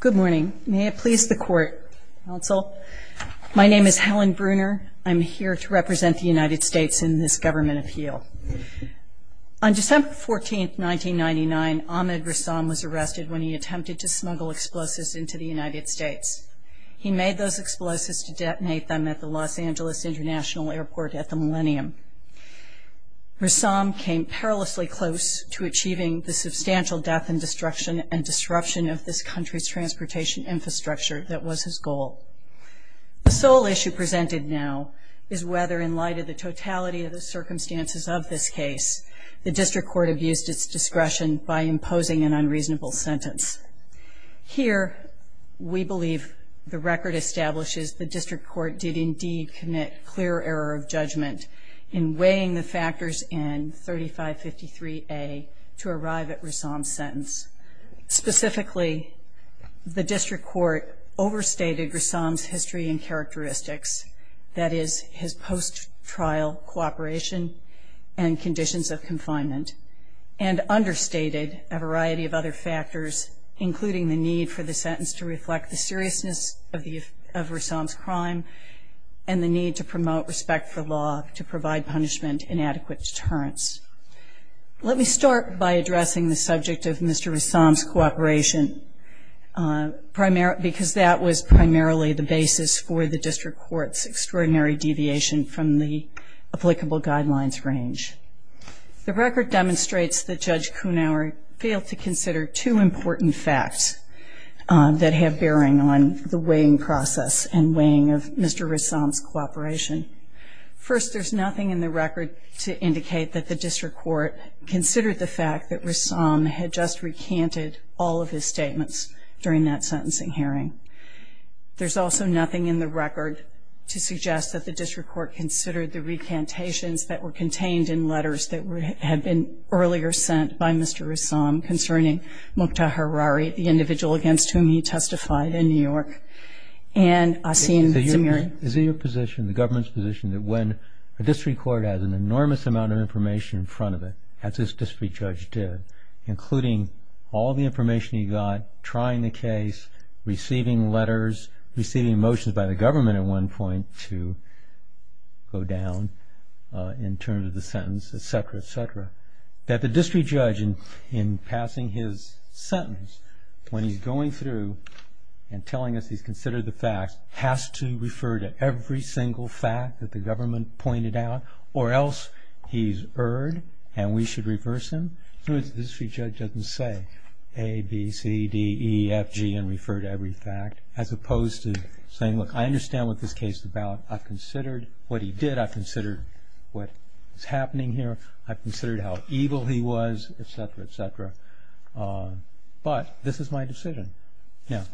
Good morning. May it please the court, counsel. My name is Helen Bruner. I'm here to represent the United States in this government appeal. On December 14, 1999, Ahmed Ressam was arrested when he attempted to smuggle explosives into the United States. He made those explosives to detonate them at the Los Angeles International Airport at the Millennium. Ressam came perilously close to achieving the substantial death and destruction and disruption of this country's transportation infrastructure that was his goal. The sole issue presented now is whether, in light of the totality of the circumstances of this case, the district court abused its discretion by imposing an unreasonable sentence. Here, we believe the record establishes the district court did indeed commit clear error of judgment in weighing the factors in 3553A to arrive at Ressam's sentence. Specifically, the district court overstated Ressam's history and characteristics, that is, his post-trial cooperation and conditions of confinement, and understated a variety of other factors, including the need for the sentence to reflect the seriousness of Ressam's crime and the need to promote respect for law to provide punishment and adequate deterrence. Let me start by addressing the subject of Mr. Ressam's cooperation, because that was primarily the basis for the district court's extraordinary deviation from the applicable guidelines range. The record demonstrates that Judge Kunawer failed to consider two important facts that have bearing on the weighing process and weighing of Mr. Ressam's cooperation. First, there's nothing in the record to indicate that the district court considered the fact that Ressam had just recanted all of his statements during that sentencing hearing. There's also nothing in the record to suggest that the district court considered the recantations that were contained in letters that had been earlier sent by Mr. Ressam concerning Mukhtar Harari, the individual against whom he testified in New York. Is it your position, the government's position, that when a district court has an enormous amount of information in front of it, as this district judge did, including all the information he got trying the case, receiving letters, receiving motions by the government at one point to go down in terms of the sentence, etc., etc., that the district judge, in passing his sentence, when he's going through and telling us he's considered the facts, has to refer to every single fact that the government pointed out, or else he's erred and we should reverse him? In other words, the district judge doesn't say A, B, C, D, E, F, G, and refer to every fact, as opposed to saying, look, I understand what this case is about. I've considered what he did. I've considered what is happening here. I've considered how evil he was, etc., etc. But this is my decision. Now,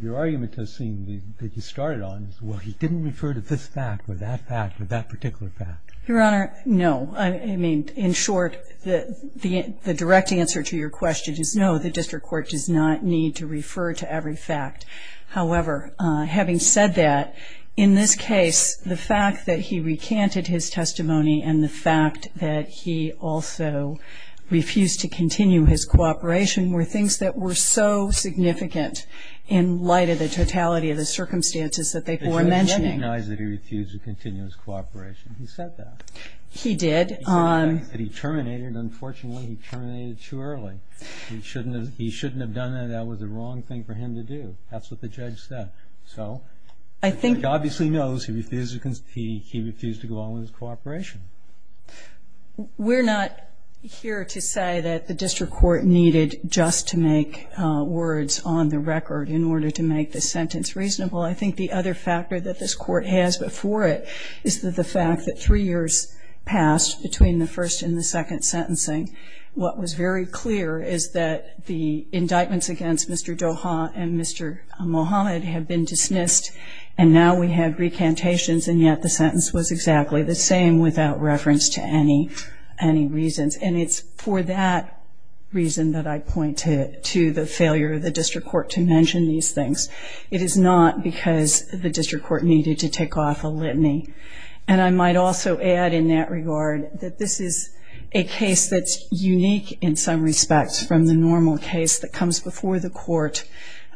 your argument does seem that you started on, well, he didn't refer to this fact or that fact or that particular fact. Your Honor, no. I mean, in short, the direct answer to your question is no, the district court does not need to refer to every fact. However, having said that, in this case, the fact that he recanted his testimony and the fact that he also refused to continue his cooperation were things that were so significant in light of the totality of the circumstances that they were mentioning. I recognize that he refused to continue his cooperation. He said that. He did. He said that he terminated. Unfortunately, he terminated too early. He shouldn't have done that. That was the wrong thing for him to do. That's what the judge said. So the judge obviously knows he refused to go on with his cooperation. We're not here to say that the district court needed just to make words on the record in order to make the sentence reasonable. I think the other factor that this court has before it is the fact that three years passed between the first and the second sentencing. What was very clear is that the indictments against Mr. Doha and Mr. Mohammed have been dismissed, and now we have recantations, and yet the sentence was exactly the same without reference to any reasons. And it's for that reason that I point to the failure of the district court to mention these things. It is not because the district court needed to take off a litany. And I might also add in that regard that this is a case that's unique in some respects from the normal case that comes before the court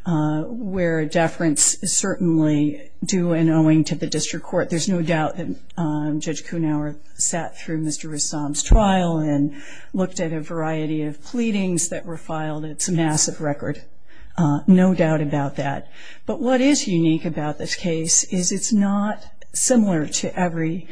where deference is certainly due and owing to the district court. There's no doubt that Judge Kuhnhauer sat through Mr. Rassam's trial and looked at a variety of pleadings that were filed. It's a massive record. No doubt about that. But what is unique about this case is it's not similar to every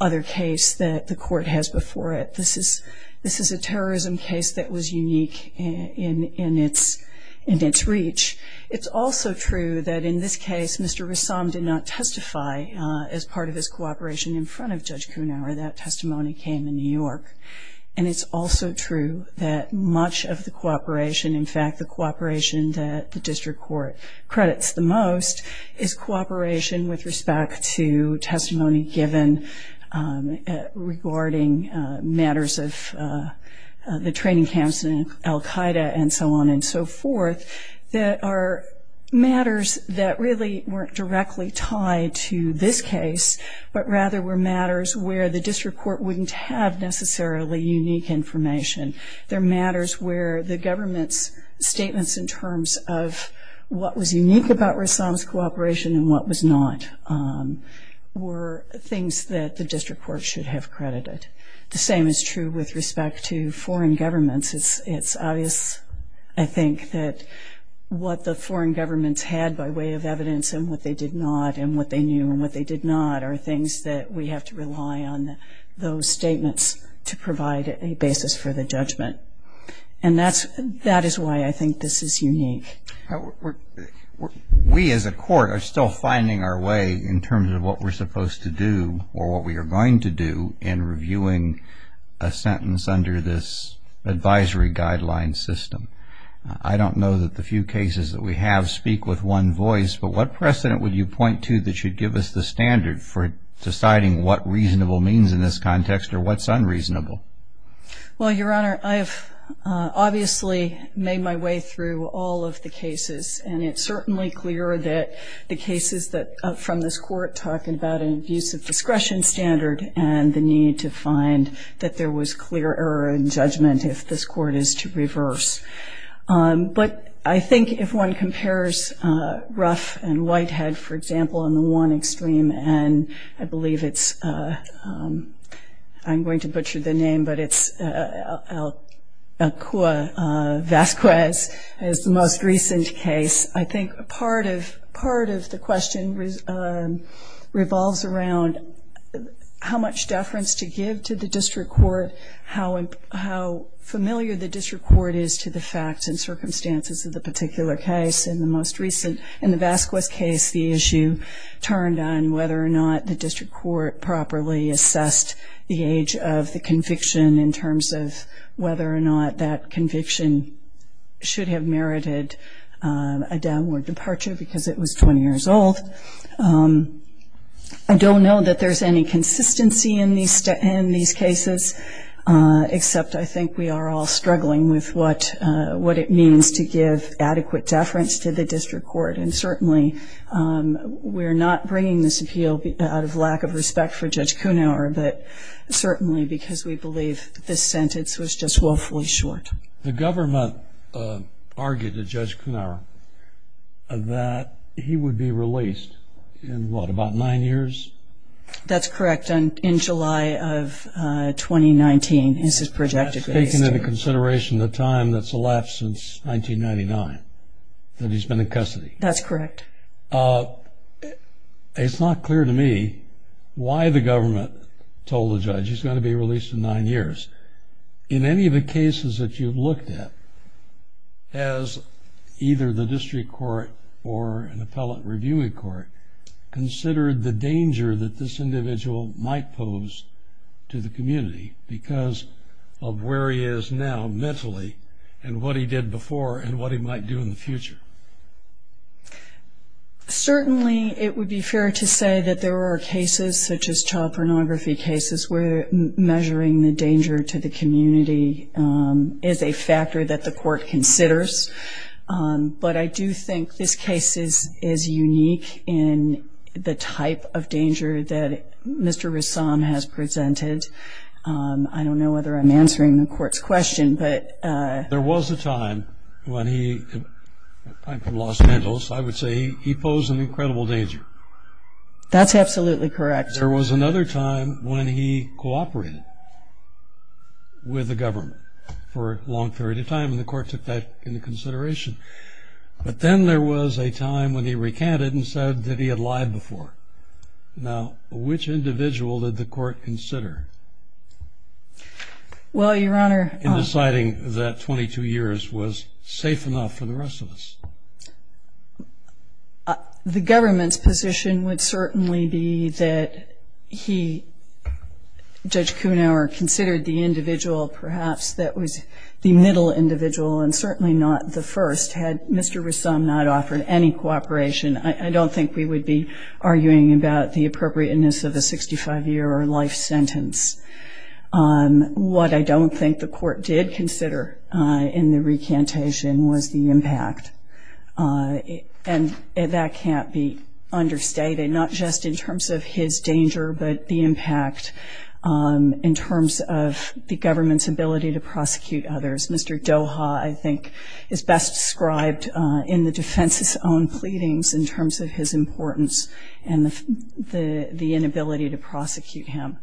other case that the court has before it. This is a terrorism case that was unique in its reach. It's also true that in this case Mr. Rassam did not testify as part of his cooperation in front of Judge Kuhnhauer. That testimony came in New York. And it's also true that much of the cooperation, in fact the cooperation that the district court credits the most, is cooperation with respect to testimony given regarding matters of the training camps in al-Qaeda and so on and so forth that are matters that really weren't directly tied to this case, but rather were matters where the district court wouldn't have necessarily unique information. They're matters where the government's statements in terms of what was unique about Rassam's cooperation and what was not were things that the district court should have credited. The same is true with respect to foreign governments. It's obvious, I think, that what the foreign governments had by way of evidence and what they did not and what they knew and what they did not are things that we have to rely on those statements to provide a basis for the judgment. And that is why I think this is unique. We as a court are still finding our way in terms of what we're supposed to do or what we are going to do in reviewing a sentence under this advisory guideline system. I don't know that the few cases that we have speak with one voice, but what precedent would you point to that should give us the standard for deciding what reasonable means in this context or what's unreasonable? Well, Your Honor, I have obviously made my way through all of the cases, and it's certainly clear that the cases from this court talking about an abuse of discretion standard and the need to find that there was clear error in judgment if this court is to reverse. But I think if one compares Ruff and Whitehead, for example, on the one extreme, and I believe it's, I'm going to butcher the name, but it's Vasquez as the most recent case, I think part of the question revolves around how much deference to give to the district court, how familiar the district court is to the facts and circumstances of the particular case. In the most recent, in the Vasquez case, the issue turned on whether or not the district court properly assessed the age of the conviction in terms of whether or not that conviction should have merited a downward departure because it was 20 years old. I don't know that there's any consistency in these cases, except I think we are all struggling with what it means to give adequate deference to the district court, and certainly we're not bringing this appeal out of lack of respect for Judge Kuhnhauer, but certainly because we believe this sentence was just woefully short. The government argued to Judge Kuhnhauer that he would be released in what, about nine years? That's correct. In July of 2019, as is projected. That's taken into consideration the time that's elapsed since 1999 that he's been in custody. That's correct. It's not clear to me why the government told the judge he's going to be released in nine years. In any of the cases that you've looked at, has either the district court or an appellate reviewing court considered the danger that this individual might pose to the community because of where he is now mentally and what he did before and what he might do in the future? Certainly it would be fair to say that there are cases, such as child pornography cases, where measuring the danger to the community is a factor that the court considers, but I do think this case is unique in the type of danger that Mr. Rassam has presented. I don't know whether I'm answering the court's question. There was a time when he, I'm from Los Angeles, I would say he posed an incredible danger. That's absolutely correct. There was another time when he cooperated with the government for a long period of time, and the court took that into consideration. But then there was a time when he recanted and said that he had lied before. Now, which individual did the court consider in deciding that 22 years was safe enough for the rest of us? The government's position would certainly be that he, Judge Kuhnhauer, considered the individual perhaps that was the middle individual and certainly not the first. Had Mr. Rassam not offered any cooperation, I don't think we would be arguing about the appropriateness of a 65-year-old life sentence. What I don't think the court did consider in the recantation was the impact, and that can't be understated, not just in terms of his danger, but the impact in terms of the government's ability to prosecute others. Mr. Doha, I think, is best described in the defense's own pleadings in terms of his importance and the inability to prosecute him.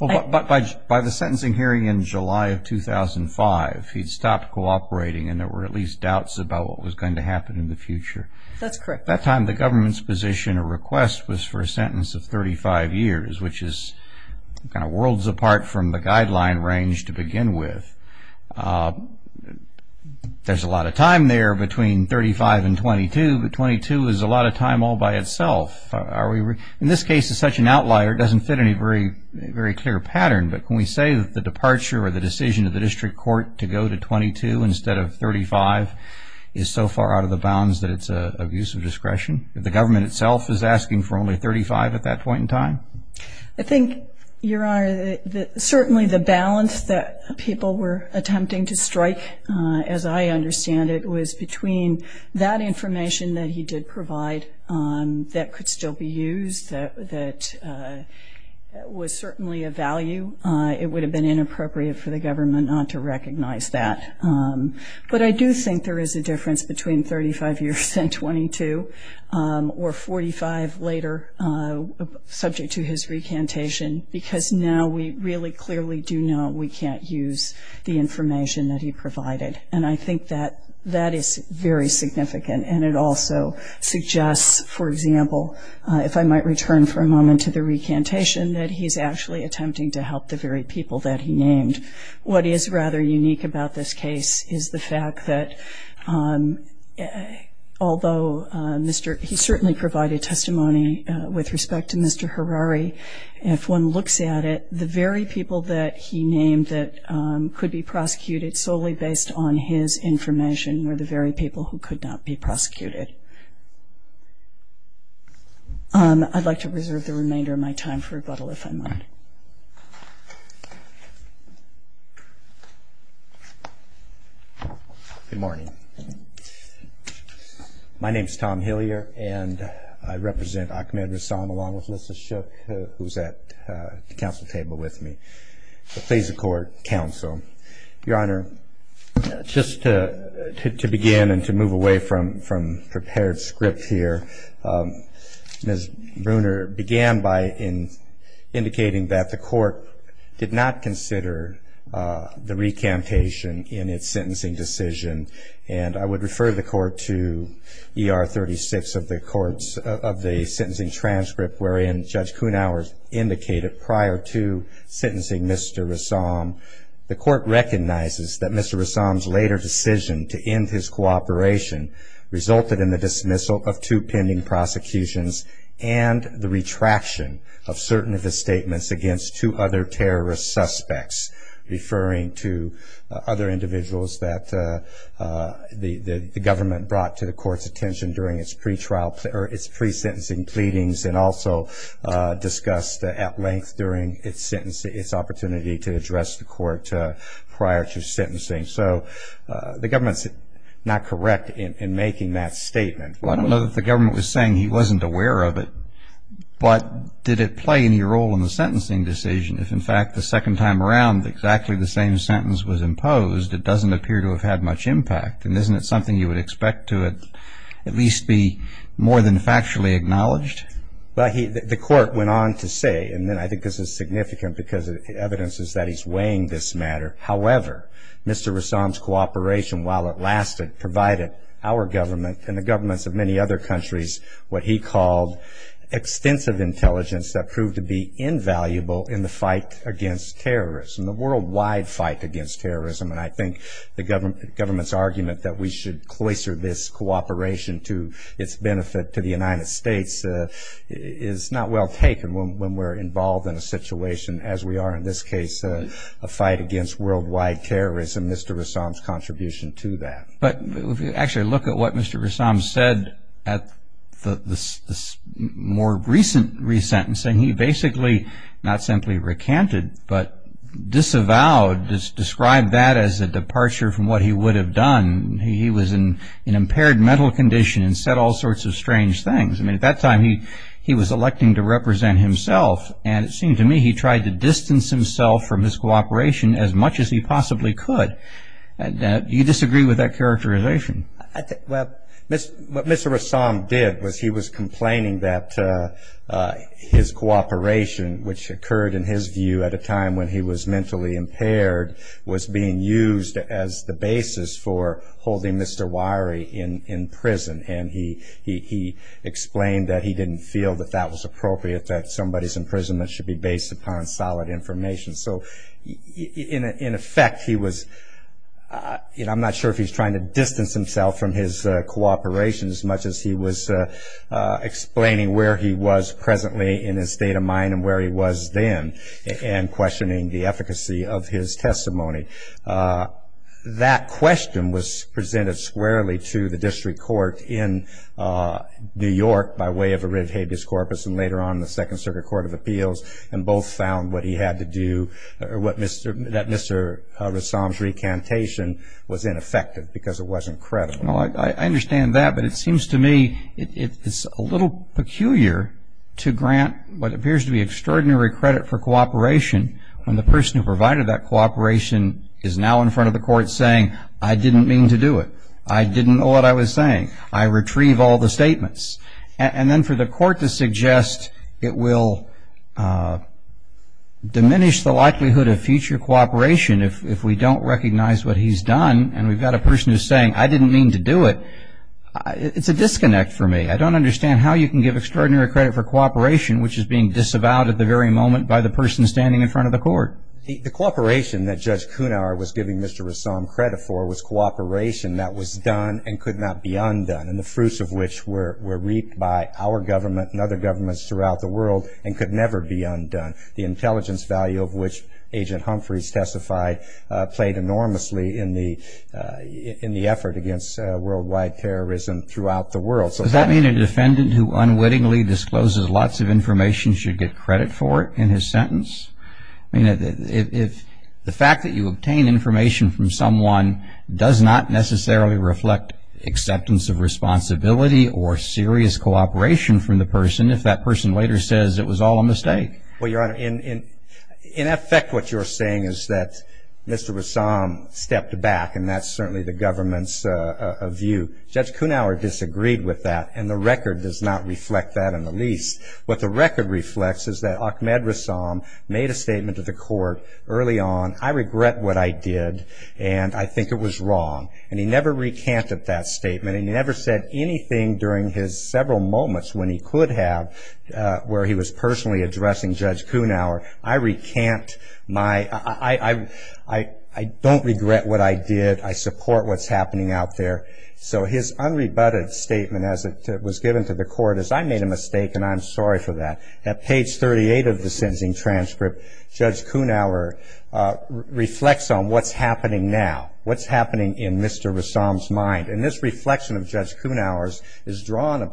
But by the sentencing hearing in July of 2005, he'd stopped cooperating and there were at least doubts about what was going to happen in the future. That's correct. At that time, the government's position or request was for a sentence of 35 years, which is kind of worlds apart from the guideline range to begin with. There's a lot of time there between 35 and 22, but 22 is a lot of time all by itself. In this case, as such an outlier, it doesn't fit any very clear pattern, but can we say that the departure or the decision of the district court to go to 22 instead of 35 is so far out of the bounds that it's an abuse of discretion? The government itself is asking for only 35 at that point in time? I think, Your Honor, certainly the balance that people were attempting to strike, as I understand it, was between that information that he did provide that could still be used, that was certainly of value. It would have been inappropriate for the government not to recognize that. But I do think there is a difference between 35 years and 22, or 45 later, subject to his recantation, because now we really clearly do know we can't use the information that he provided. And I think that that is very significant, and it also suggests, for example, if I might return for a moment to the recantation, that he's actually attempting to help the very people that he named. What is rather unique about this case is the fact that although he certainly provided testimony with respect to Mr. Harari, if one looks at it, the very people that he named that could be prosecuted solely based on his information were the very people who could not be prosecuted. I'd like to reserve the remainder of my time for rebuttal, if I might. Good morning. My name is Tom Hillier, and I represent Ahmed Rasam, along with Melissa Shook, who is at the council table with me, the Faisa Court Council. Your Honor, just to begin and to move away from prepared script here, Ms. Bruner began by indicating that the court did not consider the recantation in its sentencing decision. And I would refer the court to ER 36 of the sentencing transcript, wherein Judge Kuhnhauer indicated prior to sentencing Mr. Rasam, the court recognizes that Mr. Rasam's later decision to end his cooperation resulted in the dismissal of two pending prosecutions and the retraction of certain of his statements against two other terrorist suspects, referring to other individuals that the government brought to the court's attention during its pre-sentencing pleadings and also discussed at length during its opportunity to address the court prior to sentencing. So the government's not correct in making that statement. Well, I don't know that the government was saying he wasn't aware of it, but did it play any role in the sentencing decision? If, in fact, the second time around exactly the same sentence was imposed, it doesn't appear to have had much impact. And isn't it something you would expect to at least be more than factually acknowledged? Well, the court went on to say, and I think this is significant because evidence is that he's weighing this matter, however, Mr. Rasam's cooperation, while it lasted, provided our government and the governments of many other countries what he called extensive intelligence that proved to be invaluable in the fight against terrorism, the worldwide fight against terrorism. And I think the government's argument that we should cloister this cooperation to its benefit to the United States is not well taken when we're involved in a situation as we are in this case, a fight against worldwide terrorism, Mr. Rasam's contribution to that. But if you actually look at what Mr. Rasam said at the more recent resentencing, and he basically not simply recanted but disavowed, described that as a departure from what he would have done. He was in impaired mental condition and said all sorts of strange things. I mean, at that time he was electing to represent himself, and it seemed to me he tried to distance himself from his cooperation as much as he possibly could. Do you disagree with that characterization? Well, what Mr. Rasam did was he was complaining that his cooperation, which occurred in his view at a time when he was mentally impaired, was being used as the basis for holding Mr. Wirey in prison. And he explained that he didn't feel that that was appropriate, that somebody's imprisonment should be based upon solid information. So in effect he was, you know, I'm not sure if he's trying to distance himself from his cooperation as much as he was explaining where he was presently in his state of mind and where he was then, and questioning the efficacy of his testimony. That question was presented squarely to the district court in New York by way of a writ of habeas corpus, and later on the Second Circuit Court of Appeals, and both found what he had to do, that Mr. Rasam's recantation was ineffective because it wasn't credible. Well, I understand that, but it seems to me it's a little peculiar to grant what appears to be extraordinary credit for cooperation when the person who provided that cooperation is now in front of the court saying, I didn't mean to do it. I didn't know what I was saying. I retrieve all the statements. And then for the court to suggest it will diminish the likelihood of future cooperation if we don't recognize what he's done and we've got a person who's saying, I didn't mean to do it, it's a disconnect for me. I don't understand how you can give extraordinary credit for cooperation, which is being disavowed at the very moment by the person standing in front of the court. The cooperation that Judge Kunauer was giving Mr. Rasam credit for was cooperation that was done and could not be undone, and the fruits of which were reaped by our government and other governments throughout the world and could never be undone. The intelligence value of which Agent Humphreys testified played enormously in the effort against worldwide terrorism throughout the world. Does that mean a defendant who unwittingly discloses lots of information should get credit for it in his sentence? I mean, the fact that you obtain information from someone does not necessarily reflect acceptance of responsibility or serious cooperation from the person if that person later says it was all a mistake. Well, Your Honor, in effect what you're saying is that Mr. Rasam stepped back, and that's certainly the government's view. Judge Kunauer disagreed with that, and the record does not reflect that in the least. What the record reflects is that Ahmed Rasam made a statement to the court early on, I regret what I did, and I think it was wrong. And he never recanted that statement, and he never said anything during his several moments when he could have where he was personally addressing Judge Kunauer. I recant my – I don't regret what I did. I support what's happening out there. So his unrebutted statement as it was given to the court is, I made a mistake, and I'm sorry for that. At page 38 of the sentencing transcript, Judge Kunauer reflects on what's happening now, what's happening in Mr. Rasam's mind. And this reflection of Judge Kunauer's is drawn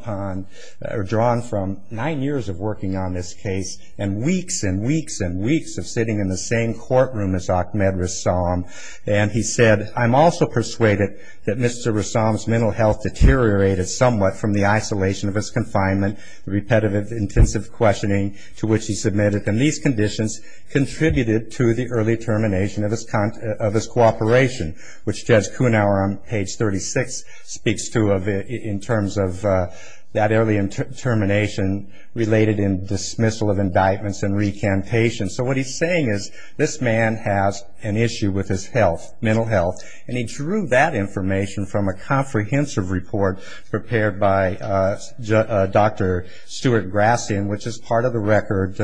from nine years of working on this case and weeks and weeks and weeks of sitting in the same courtroom as Ahmed Rasam. And he said, I'm also persuaded that Mr. Rasam's mental health deteriorated somewhat from the isolation of his confinement, repetitive intensive questioning to which he submitted, and these conditions contributed to the early termination of his cooperation, which Judge Kunauer on page 36 speaks to in terms of that early termination related in dismissal of indictments and recantation. So what he's saying is this man has an issue with his health, mental health, and he drew that information from a comprehensive report prepared by Dr. Stuart Grassian, which is part of the record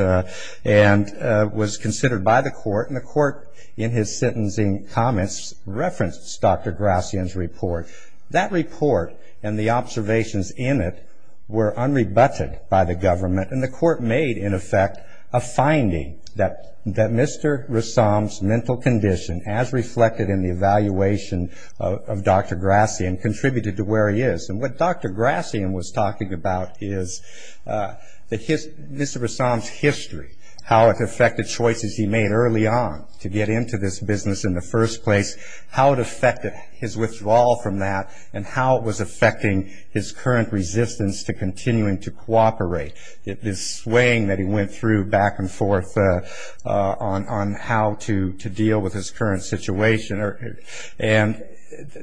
and was considered by the court. And the court in his sentencing comments referenced Dr. Grassian's report. That report and the observations in it were unrebutted by the government, and the court made, in effect, a finding that Mr. Rasam's mental condition, as reflected in the evaluation of Dr. Grassian, contributed to where he is. And what Dr. Grassian was talking about is Mr. Rasam's history, how it affected choices he made early on to get into this business in the first place, how it affected his withdrawal from that, and how it was affecting his current resistance to continuing to cooperate. This swaying that he went through back and forth on how to deal with his current situation. And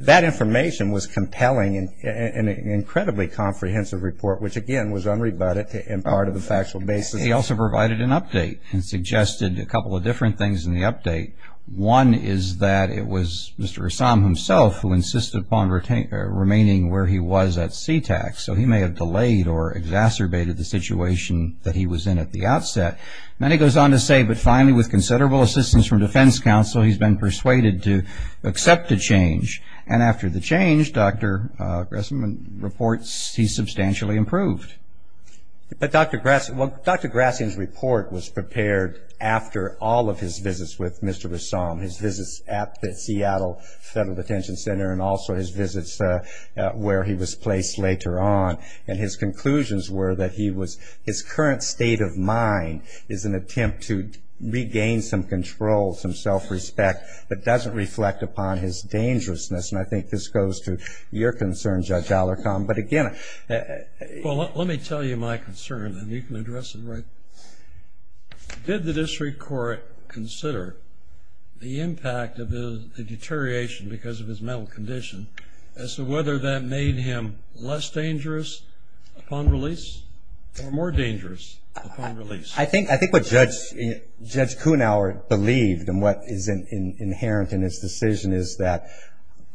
that information was compelling in an incredibly comprehensive report, which, again, was unrebutted in part of the factual basis. He also provided an update and suggested a couple of different things in the update. One is that it was Mr. Rasam himself who insisted upon remaining where he was at CTAC, so he may have delayed or exacerbated the situation that he was in at the outset. Then he goes on to say, but finally, with considerable assistance from defense counsel, he's been persuaded to accept the change. And after the change, Dr. Grassian reports he's substantially improved. But Dr. Grassian's report was prepared after all of his visits with Mr. Rasam, his visits at the Seattle Federal Detention Center and also his visits where he was placed later on. And his conclusions were that his current state of mind is an attempt to regain some control, some self-respect, but doesn't reflect upon his dangerousness. And I think this goes to your concern, Judge Alarcon. But, again, Well, let me tell you my concern, and you can address it right. Did the district court consider the impact of the deterioration because of his mental condition as to whether that made him less dangerous upon release or more dangerous upon release? I think what Judge Kuhnhauer believed and what is inherent in his decision is that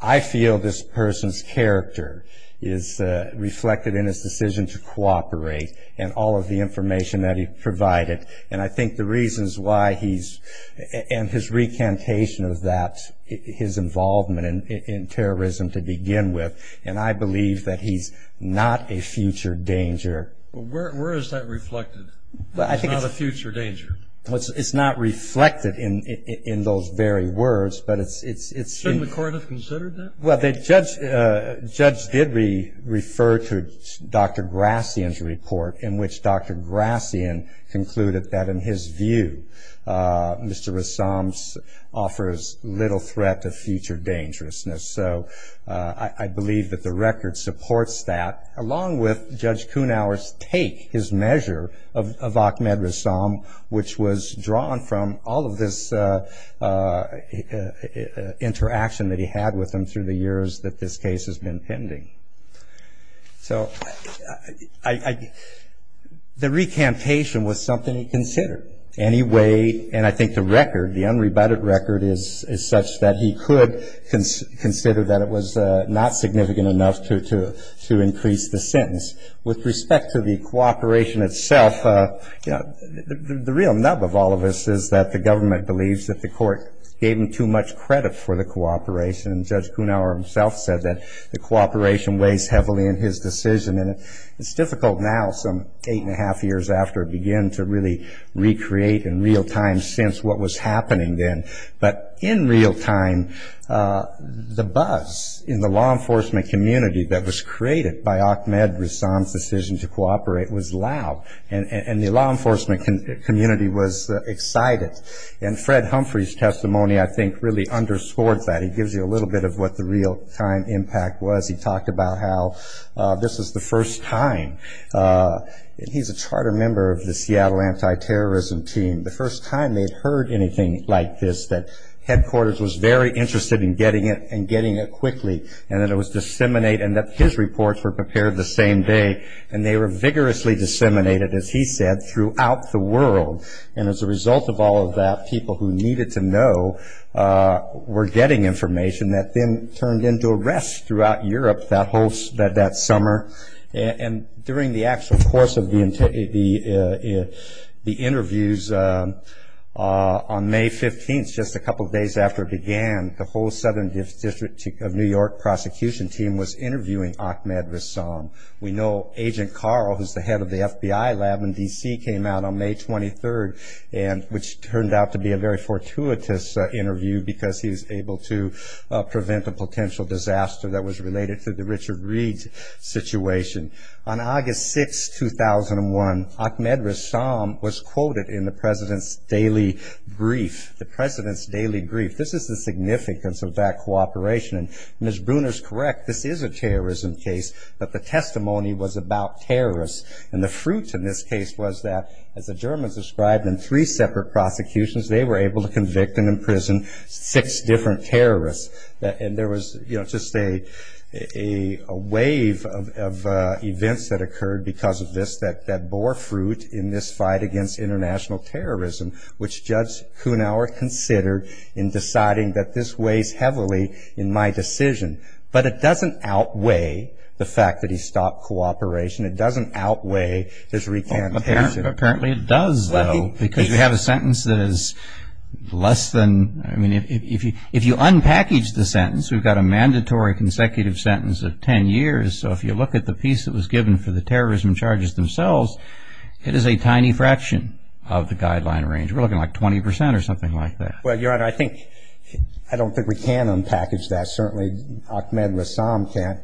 I feel this person's character is reflected in his decision to cooperate and all of the information that he provided. And I think the reasons why he's and his recantation of that, his involvement in terrorism to begin with, and I believe that he's not a future danger. Where is that reflected? It's not a future danger. It's not reflected in those very words, but it's Shouldn't the court have considered that? Well, Judge did refer to Dr. Grassian's report, in which Dr. Grassian concluded that, in his view, Mr. Rassam's offers little threat to future dangerousness. So I believe that the record supports that, along with Judge Kuhnhauer's take, his measure of Ahmed Rassam, which was drawn from all of this interaction that he had with him through the years that this case has been pending. So the recantation was something he considered. And he weighed, and I think the record, the unrebutted record, is such that he could consider that it was not significant enough to increase the sentence. With respect to the cooperation itself, the real nub of all of this is that the government believes that the court gave him too much credit for the cooperation, and Judge Kuhnhauer himself said that the cooperation weighs heavily in his decision. And it's difficult now, some eight and a half years after it began, to really recreate in real time since what was happening then. But in real time, the buzz in the law enforcement community that was created by Ahmed Rassam's decision to cooperate was loud, and the law enforcement community was excited. And Fred Humphrey's testimony, I think, really underscores that. He gives you a little bit of what the real-time impact was. He talked about how this was the first time. He's a charter member of the Seattle anti-terrorism team. The first time they'd heard anything like this, that headquarters was very interested in getting it and getting it quickly, and that it was disseminated and that his reports were prepared the same day. And they were vigorously disseminated, as he said, throughout the world. And as a result of all of that, people who needed to know were getting information that then turned into arrests throughout Europe that summer. And during the actual course of the interviews, on May 15th, just a couple of days after it began, the whole Southern District of New York prosecution team was interviewing Ahmed Rassam. We know Agent Carl, who's the head of the FBI lab in D.C., came out on May 23rd, which turned out to be a very fortuitous interview because he was able to prevent a potential disaster that was related to the Richard Reed situation. On August 6th, 2001, Ahmed Rassam was quoted in the president's daily brief. This is the significance of that cooperation. And as Bruner's correct, this is a terrorism case, but the testimony was about terrorists. And the fruit in this case was that, as the Germans described in three separate prosecutions, they were able to convict and imprison six different terrorists. And there was just a wave of events that occurred because of this that bore fruit in this fight against international terrorism, which Judge Kunauer considered in deciding that this weighs heavily in my decision. But it doesn't outweigh the fact that he stopped cooperation. It doesn't outweigh his recantation. Apparently it does, though, because you have a sentence that is less than, I mean, if you unpackage the sentence, we've got a mandatory consecutive sentence of ten years, so if you look at the piece that was given for the terrorism charges themselves, it is a tiny fraction of the guideline range. We're looking like 20 percent or something like that. Well, Your Honor, I don't think we can unpackage that. Certainly Ahmed Rassam can't.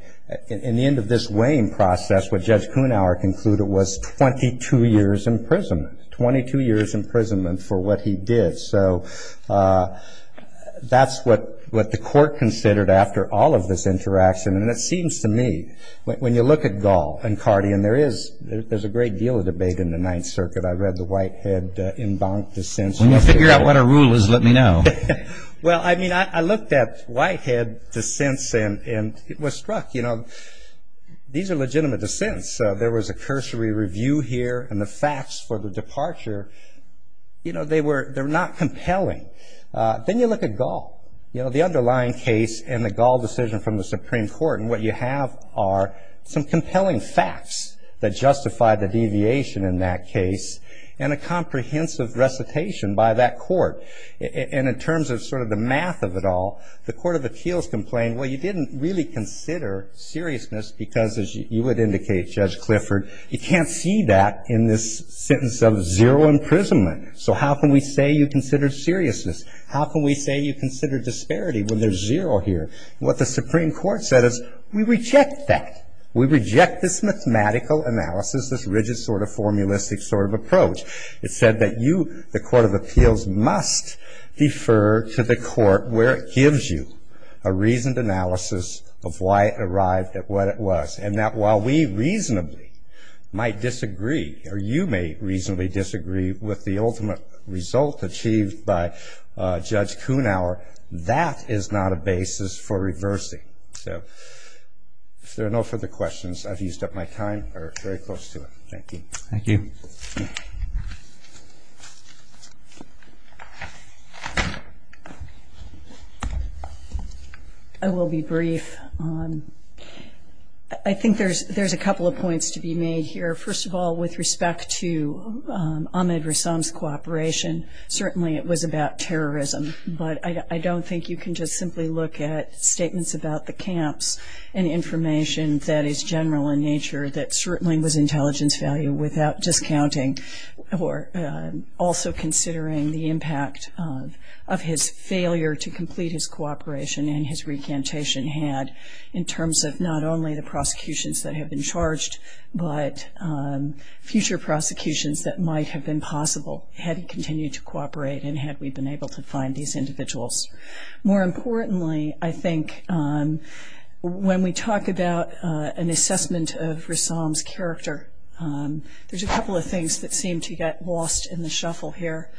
In the end of this weighing process, what Judge Kunauer concluded was 22 years in prison, 22 years imprisonment for what he did. So that's what the court considered after all of this interaction. And it seems to me, when you look at Gall and Cardian, there's a great deal of debate in the Ninth Circuit. I read the Whitehead Embankment Dissent. When you figure out what a rule is, let me know. Well, I mean, I looked at Whitehead dissents and was struck. You know, these are legitimate dissents. There was a cursory review here, and the facts for the departure, you know, they're not compelling. Then you look at Gall. You know, the underlying case and the Gall decision from the Supreme Court, and what you have are some compelling facts that justify the deviation in that case and a comprehensive recitation by that court. And in terms of sort of the math of it all, the Court of Appeals complained, well, you didn't really consider seriousness because, as you would indicate, Judge Clifford, you can't see that in this sentence of zero imprisonment. So how can we say you considered seriousness? How can we say you considered disparity when there's zero here? What the Supreme Court said is we reject that. We reject this mathematical analysis, this rigid sort of formulistic sort of approach. It said that you, the Court of Appeals, must defer to the court where it gives you a reasoned analysis of why it arrived at what it was and that while we reasonably might disagree or you may reasonably disagree with the ultimate result achieved by Judge Kuhnauer, that is not a basis for reversing. So if there are no further questions, I've used up my time. We're very close to it. Thank you. Thank you. I will be brief. I think there's a couple of points to be made here. First of all, with respect to Ahmed Rassam's cooperation, certainly it was about terrorism, but I don't think you can just simply look at statements about the camps and information that is general in nature that certainly was intelligence value without discounting or also considering the impact of his failure to complete his cooperation and his recantation had in terms of not only the prosecutions that have been charged, but future prosecutions that might have been possible had he continued to cooperate and had we been able to find these individuals. More importantly, I think when we talk about an assessment of Rassam's character, there's a couple of things that seem to get lost in the shuffle here.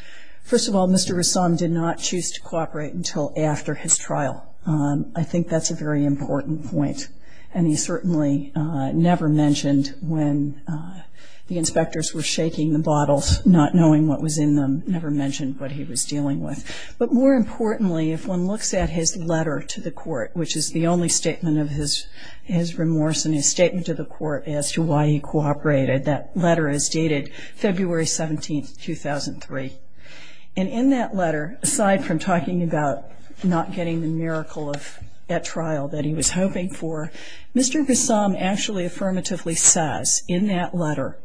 First of all, Mr. Rassam did not choose to cooperate until after his trial. I think that's a very important point, and he certainly never mentioned when the inspectors were shaking the bottles, not knowing what was in them, never mentioned what he was dealing with. But more importantly, if one looks at his letter to the court, which is the only statement of his remorse in his statement to the court as to why he cooperated, that letter is dated February 17, 2003. And in that letter, aside from talking about not getting the miracle at trial that he was hoping for, Mr. Rassam actually affirmatively says in that letter,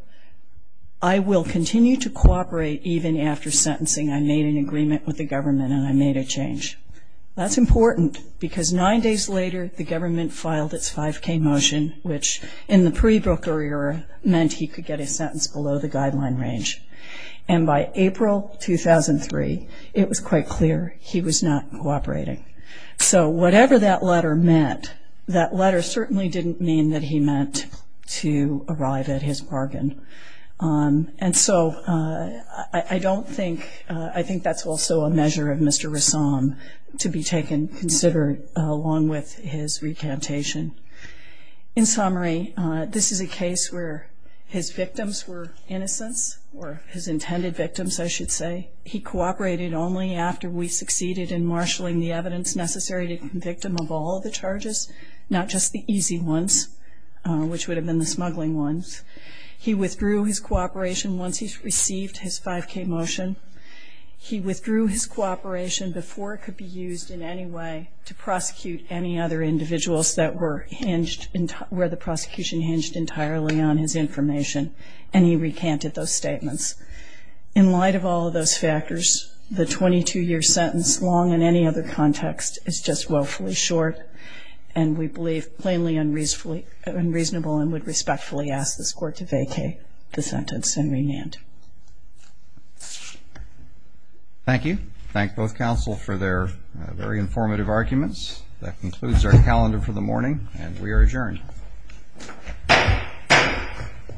I will continue to cooperate even after sentencing. I made an agreement with the government and I made a change. That's important because nine days later the government filed its 5K motion, which in the pre-Brooker era meant he could get a sentence below the guideline range. And by April 2003, it was quite clear he was not cooperating. So whatever that letter meant, that letter certainly didn't mean that he meant to arrive at his bargain. And so I don't think, I think that's also a measure of Mr. Rassam to be taken, considered along with his recantation. In summary, this is a case where his victims were innocents, or his intended victims, I should say. He cooperated only after we succeeded in marshalling the evidence necessary to convict him of all the charges, not just the easy ones, which would have been the smuggling ones. He withdrew his cooperation once he received his 5K motion. He withdrew his cooperation before it could be used in any way to prosecute any other individuals that were hinged, where the prosecution hinged entirely on his information, and he recanted those statements. In light of all of those factors, the 22-year sentence, long in any other context, is just woefully short and we believe plainly unreasonable and would respectfully ask this Court to vacate the sentence and remand. Thank you. Thank both counsel for their very informative arguments. That concludes our calendar for the morning, and we are adjourned.